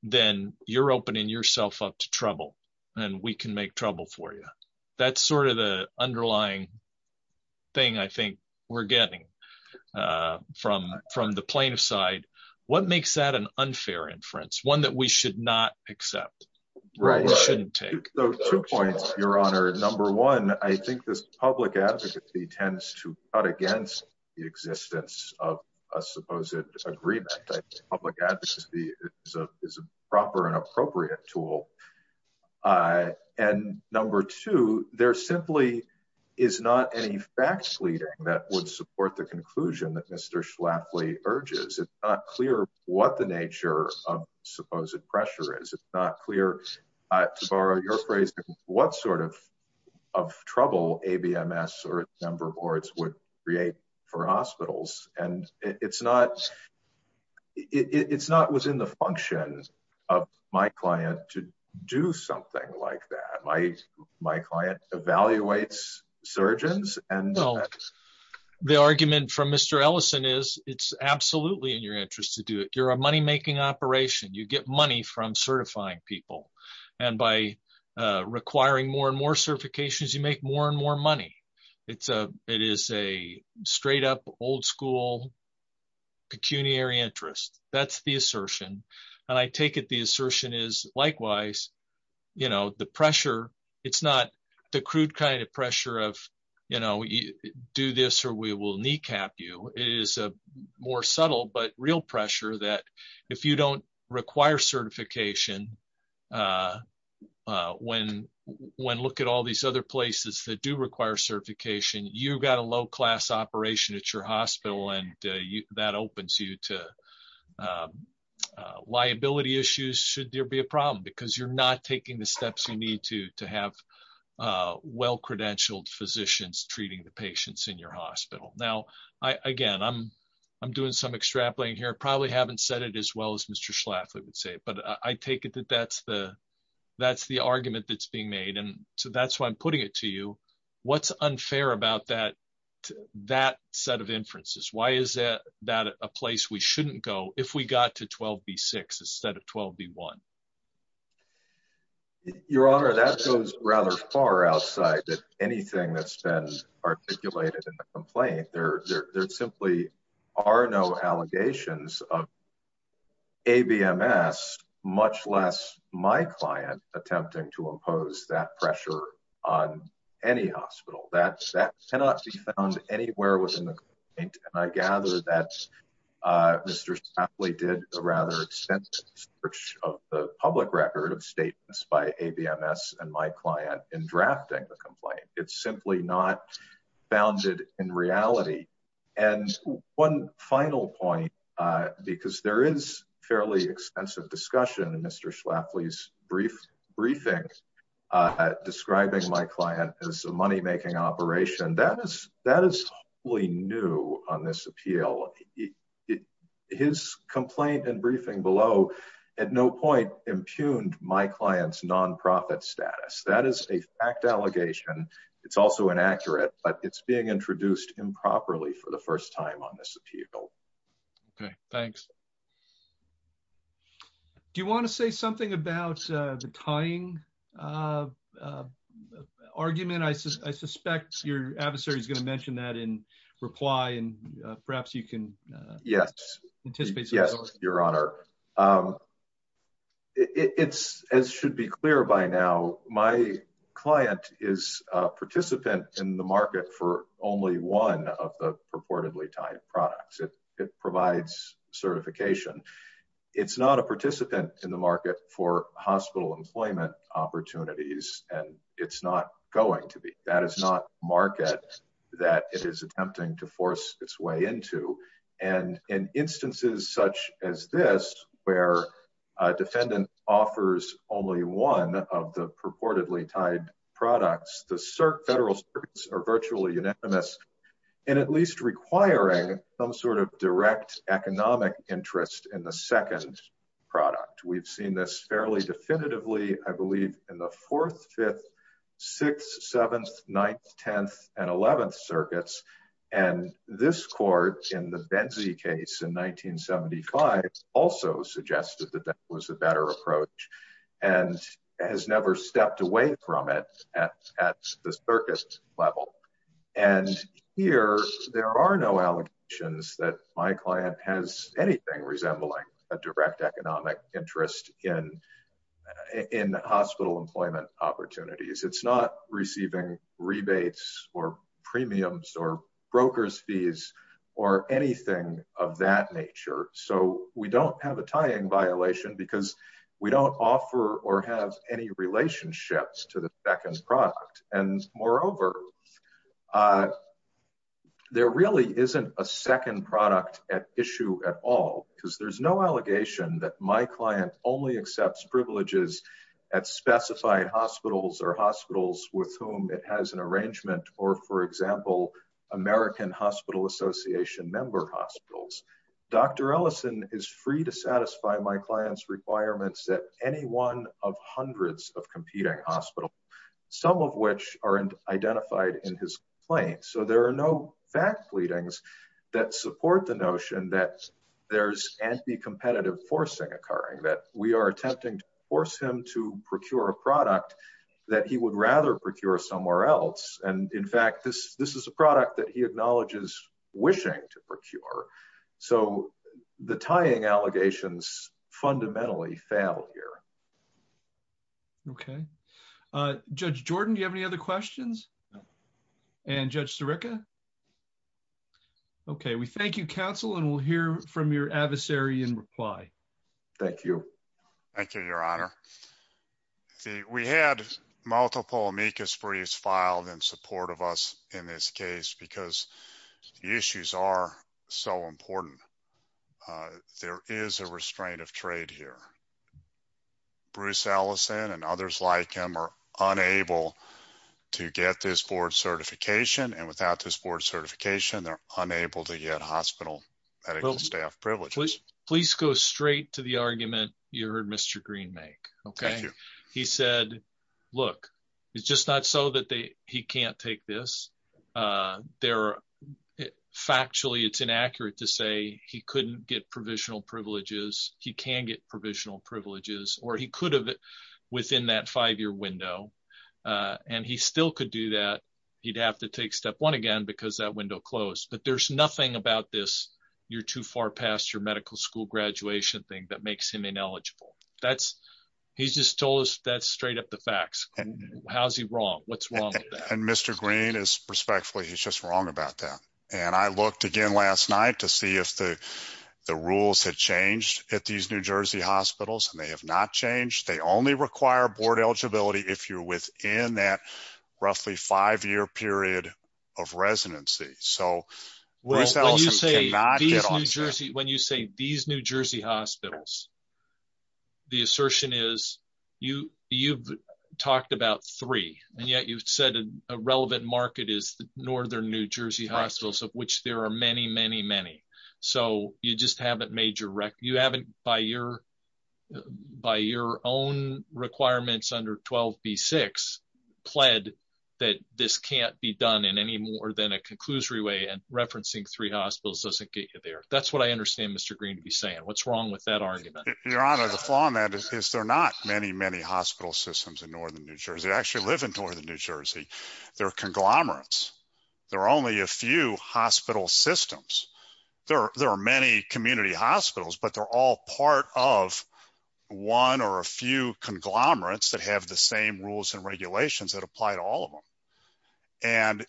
then you're opening yourself up to trouble, and we can make trouble for you. That's sort of the underlying thing I think we're getting from the plaintiff's side. What makes that an unfair inference, one that we should not accept, or we shouldn't take? Well, two points, Your Honor. Number one, I think this public advocacy tends to cut against the existence of a supposed agreement. I think public advocacy is a proper and appropriate tool. And number two, there simply is not any fact-leading that would support the conclusion that Mr. Schlafly urges. It's not clear what the nature of supposed pressure is. It's not clear, to borrow your phrasing, what sort of trouble ABMS or its member boards would create for hospitals. And it's not within the function of my client to do something like that. My client evaluates surgeons. The argument from Mr. Ellison is it's absolutely in your interest to do it. You're a money-making operation. You get money from certifying people. And by requiring more and more certifications, you make more and more money. It is a straight-up, old-school, pecuniary interest. That's the assertion. And I take it the assertion is likewise. It's not the crude kind of pressure of, you know, do this or we will kneecap you. It is a more subtle but real pressure that if you don't require certification, when look at all these other places that do require certification, you've got a low-class operation at your hospital and that opens you to liability issues should there be a problem because you're not taking the steps you need to have well-credentialed physicians treating the patients in your hospital. Now, again, I'm doing some extrapolating here. I probably haven't said it as well as Mr. Schlafly would say, but I take it that that's the argument that's being made. And so that's why I'm putting it to you. What's unfair about that set of inferences? Why is that a place we shouldn't go if we got to 12B6 instead of 12B1? Your Honor, that goes rather far outside that anything that's been articulated in the complaint. There simply are no allegations of ABMS, much less my client attempting to impose that pressure on any hospital. That cannot be found anywhere within the Mr. Schlafly did a rather extensive search of the public record of statements by ABMS and my client in drafting the complaint. It's simply not founded in reality. And one final point, because there is fairly extensive discussion in Mr. Schlafly's briefing describing my client as a money-making operation. That is wholly new on this appeal. His complaint and briefing below at no point impugned my client's nonprofit status. That is a fact allegation. It's also inaccurate, but it's being introduced improperly for the first time on this appeal. Okay, thanks. Do you want to say something about the tying argument? I suspect your adversary is going to mention that in reply, and perhaps you can anticipate some results. Yes, Your Honor. It's, as should be clear by now, my client is a participant in the market for only one of the certification. It's not a participant in the market for hospital employment opportunities, and it's not going to be. That is not market that it is attempting to force its way into. And in instances such as this, where a defendant offers only one of the purportedly tied products, federal circuits are virtually unanimous in at least requiring some sort of direct economic interest in the second product. We've seen this fairly definitively, I believe, in the 4th, 5th, 6th, 7th, 9th, 10th, and 11th circuits. And this court, in the Benzie case in 1975, also suggested that that was a better approach and has never stepped away from it at the circus level. And here, there are no allegations that my client has anything resembling a direct economic interest in hospital employment opportunities. It's not receiving rebates or premiums or anything of that nature. So we don't have a tying violation because we don't offer or have any relationships to the second product. And moreover, there really isn't a second product at issue at all, because there's no allegation that my client only accepts privileges at specified hospitals or hospitals with whom it has an arrangement, or for example, American Hospital Association member hospitals. Dr. Ellison is free to satisfy my client's requirements at any one of hundreds of competing hospitals, some of which are identified in his claim. So there are no fact leadings that support the notion that there's anti-competitive forcing occurring, that we are attempting to force him to procure a product that he would rather procure somewhere else. And in fact, this is a product that he acknowledges wishing to procure. So the tying allegations fundamentally fail here. Okay. Judge Jordan, do you have any other questions? And Judge Sirica? Okay, we thank you, counsel, and we'll hear from your adversary in reply. Thank you. Thank you, your honor. We had multiple amicus briefs filed in support of us in this case because the issues are so important. There is a restraint of trade here. Bruce Ellison and others like him are unable to get this board certification, and without this to the argument you heard Mr. Green make. Okay. He said, look, it's just not so that he can't take this. Factually, it's inaccurate to say he couldn't get provisional privileges. He can get provisional privileges, or he could have within that five-year window, and he still could do that. He'd have to take step one again because that window closed. But there's nothing about this. You're too far past your medical school graduation thing that makes him ineligible. He's just told us that's straight up the facts. How's he wrong? What's wrong with that? And Mr. Green is, respectfully, he's just wrong about that. And I looked again last night to see if the rules had changed at these New Jersey hospitals, and they have not changed. They only require board eligibility if you're within that roughly five-year period of residency. So Bruce when you say these New Jersey hospitals, the assertion is you've talked about three, and yet you've said a relevant market is the northern New Jersey hospitals, of which there are many, many, many. So you just haven't made your record. You haven't, by your own requirements under 12B6, pled that this can't be done in any more than a conclusory way, and referencing three that's what I understand Mr. Green to be saying. What's wrong with that argument? Your Honor, the flaw in that is there are not many, many hospital systems in northern New Jersey. I actually live in northern New Jersey. There are conglomerates. There are only a few hospital systems. There are many community hospitals, but they're all part of one or a few conglomerates that have the same rules and regulations that apply to all of them. And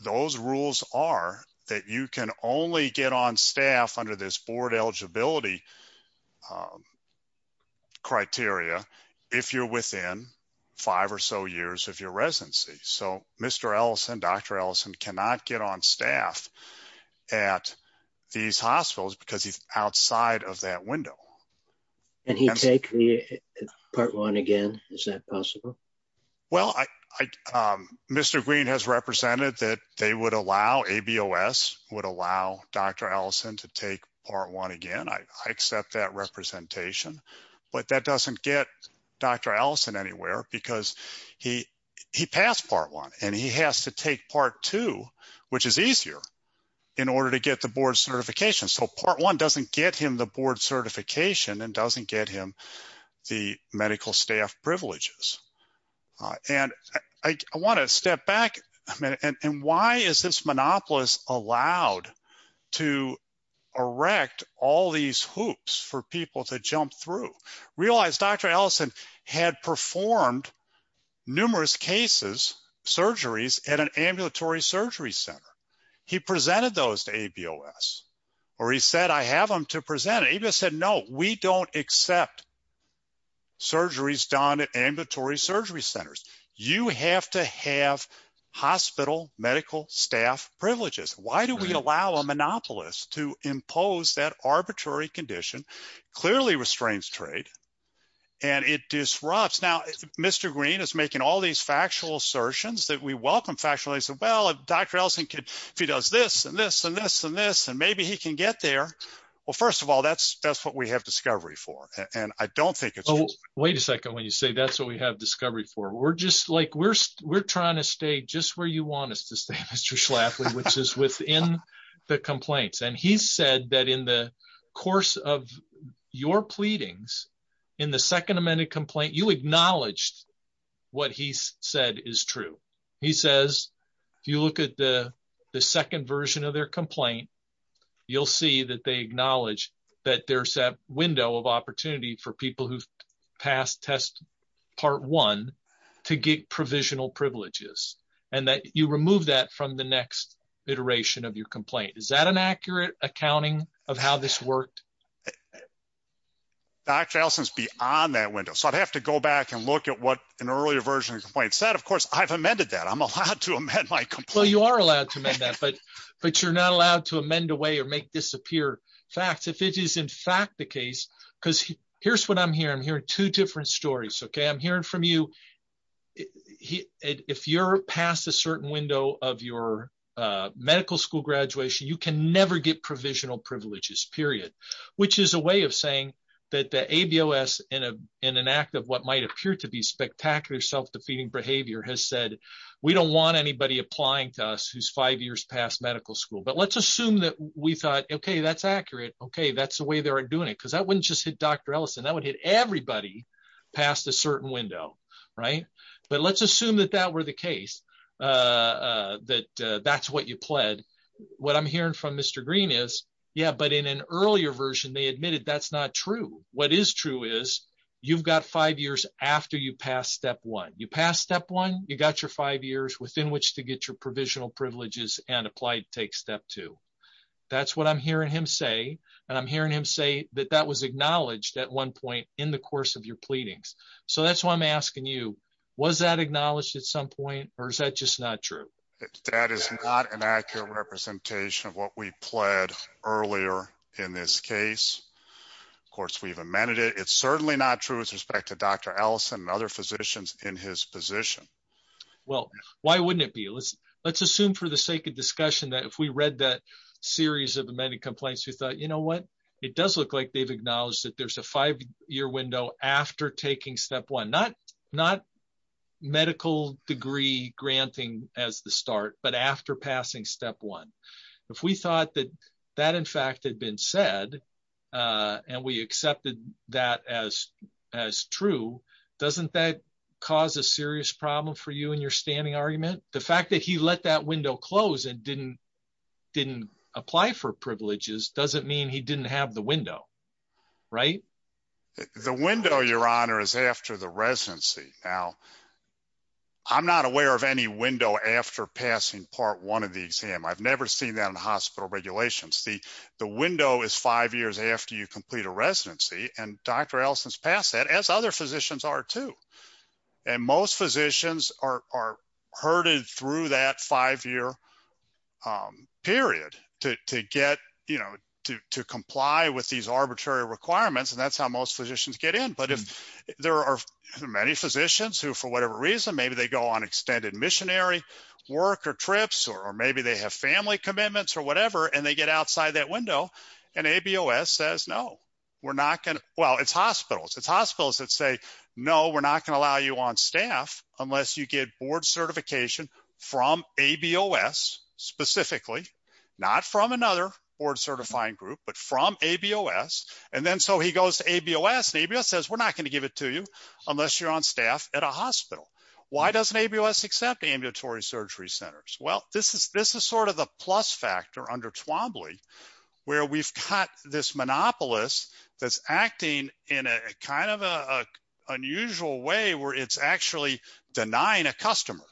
those rules are that you can only get on staff under this board eligibility criteria if you're within five or so years of your residency. So Mr. Ellison, Dr. Ellison cannot get on staff at these hospitals because he's outside of that window. Can he take part one again? Is that possible? Well, Mr. Green has represented that they would allow, ABOS would allow Dr. Ellison to take part one again. I accept that representation, but that doesn't get Dr. Ellison anywhere because he passed part one and he has to take part two, which is easier in order to get the board certification. So part one doesn't get him the board certification and doesn't get him the medical staff privileges. And I want to step back a minute and why is this monopolist allowed to erect all these hoops for people to jump through? Realize Dr. Ellison had performed numerous cases, surgeries at an ambulatory surgery center. He presented those to ABOS or he said, I have them to present. ABOS said, no, we don't accept surgeries done at ambulatory surgery centers. You have to have hospital medical staff privileges. Why do we allow a monopolist to impose that arbitrary condition clearly restrains trade and it disrupts. Now, Mr. Green is making all these factual assertions that we welcome well, if Dr. Ellison could, if he does this and this and this and this, and maybe he can get there. Well, first of all, that's, that's what we have discovery for. And I don't think it's, Oh, wait a second. When you say that's what we have discovery for. We're just like, we're, we're trying to stay just where you want us to stay, Mr. Schlafly, which is within the complaints. And he said that in the course of your pleadings in the second amended complaint, you acknowledged what he said is true. He says, if you look at the second version of their complaint, you'll see that they acknowledge that there's a window of opportunity for people who pass test part one to get provisional privileges and that you remove that from the next iteration of your complaint. Is that an accurate accounting of how this worked? Dr. Ellison's beyond that back and look at what an earlier version of the complaint said. Of course, I've amended that I'm allowed to amend my complaint. You are allowed to amend that, but, but you're not allowed to amend away or make disappear facts. If it is in fact the case, cause here's what I'm hearing. I'm hearing two different stories. Okay. I'm hearing from you. If you're past a certain window of your medical school graduation, you can never get provisional privileges period, which is a way saying that the ABOS in a, in an act of what might appear to be spectacular self-defeating behavior has said, we don't want anybody applying to us who's five years past medical school, but let's assume that we thought, okay, that's accurate. Okay. That's the way they're doing it. Cause that wouldn't just hit Dr. Ellison. That would hit everybody past a certain window. Right. But let's assume that that were the case, uh, that, uh, that's what you pled. What I'm hearing from Mr. Green is yeah. But in an earlier version, they admitted that's not true. What is true is you've got five years after you pass step one, you pass step one, you got your five years within which to get your provisional privileges and applied, take step two. That's what I'm hearing him say. And I'm hearing him say that that was acknowledged at one point in the course of your pleadings. So that's why I'm asking you, was that acknowledged at some point, or is that just not true? That is not an accurate representation of what we pled earlier in this case. Of course, we've amended it. It's certainly not true with respect to Dr. Ellison and other physicians in his position. Well, why wouldn't it be? Let's, let's assume for the sake of discussion that if we read that series of the many complaints, we thought, you know what? It does look like they've acknowledged that there's a five year window after taking step one, not, not medical degree granting as the start, but after passing step one, if we thought that that in fact had been said, and we accepted that as, as true, doesn't that cause a serious problem for you and your standing argument? The fact that he let that window close and didn't, didn't apply for privileges doesn't mean he didn't have the window, right? The window your honor is after the residency. Now, I'm not aware of any window after passing part one of the exam. I've never seen that in the hospital regulations. The, the window is five years after you complete a residency and Dr. Ellison's passed that as other physicians are too. And most physicians are, are herded through that five year period to, to get, you know, to, to comply with these arbitrary requirements. And that's how most physicians get in. But if there are many physicians who, for whatever reason, maybe they go on extended missionary work or trips, or maybe they have family commitments or whatever, and they get outside that window and ABOS says, no, we're not going to, well, it's hospitals, it's hospitals that say, no, we're not going to allow you on staff unless you get board certification from ABOS specifically, not from another board certifying group, but from ABOS. And then so he goes to ABOS and ABOS says, we're not going to give it to you unless you're on staff at a hospital. Why doesn't ABOS accept ambulatory surgery centers? Well, this is, this is sort of the plus factor under Twombly where we've got this monopolist that's acting in a kind of a unusual way where it's actually denying a customer.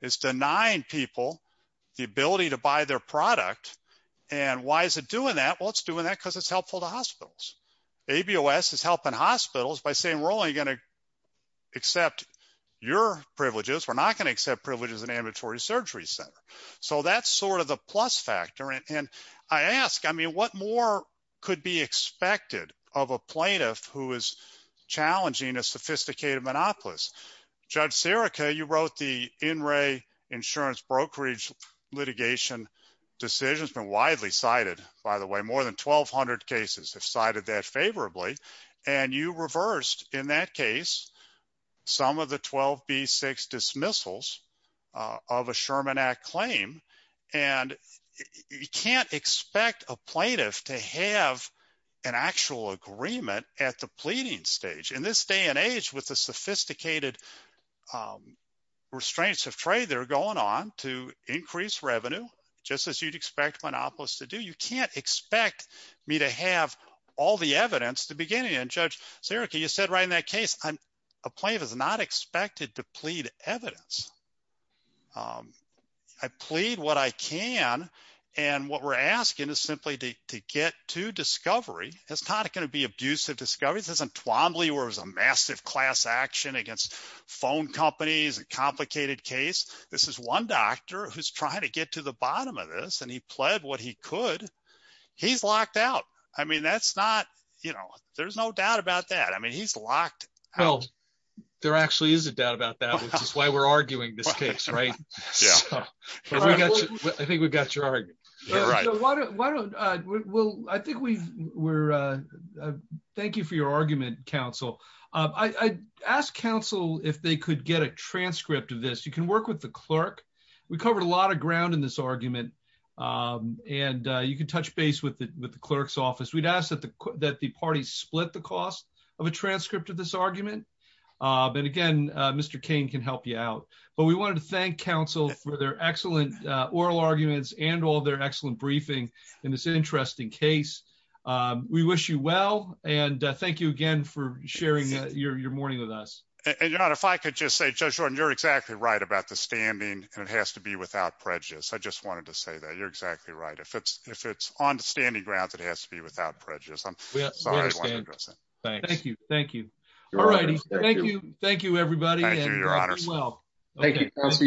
It's denying people the ability to buy their product. And why is it doing that? Well, it's doing that because it's helpful to hospitals. ABOS is helping hospitals by saying, we're only going to accept your privileges. We're not going to accept privileges in ambulatory surgery center. So that's sort of the plus factor. And I ask, I mean, what more could be expected of a plaintiff who is challenging a sophisticated monopolist? Judge Sirica, you wrote the in-ray insurance brokerage litigation decisions been widely cited, by the way, more than 1200 cases have cited that favorably. And you reversed in that case, some of the 12B6 dismissals of a Sherman Act claim. And you can't expect a plaintiff to have an actual agreement at the pleading stage in this day and age with the sophisticated restraints of trade, they're going on to increase revenue, just as you'd expect monopolists to do. You can't expect me to have all the evidence to begin and judge Sirica, you said right in that case, a plaintiff is not expected to plead evidence. I plead what I can. And what we're asking is simply to get to discovery. It's not going to be abusive discovery. This isn't Twombly where it was a massive class action against phone companies and complicated case. This is one doctor who's trying to get to the bottom of this and he pled what he could. He's locked out. I mean, that's not, you know, there's no doubt about that. I mean, he's locked out. Well, there actually is a doubt about that, which is why we're arguing this case, right? I think we got your argument. Right. Well, I think we were. Thank you for your argument, counsel. I asked counsel if they could get a transcript of this. You can work with the clerk. We covered a lot of ground in this argument. And you can touch base with the clerk's office. We'd ask that the parties split the cost of a transcript of this argument. But again, Mr. Kane can help you out. But we wanted to thank counsel for their excellent oral arguments and all their excellent briefing in this interesting case. We wish you well. And thank you again for sharing your morning with us. And if I could just say, Judge, you're exactly right about the standing and it has to be without prejudice. I just wanted to say that you're exactly right. If it's if it's on the standing grounds, it has to be without prejudice. I'm sorry. Thank you. Thank you. All right. Thank you. Thank you, everybody. Well, thank you.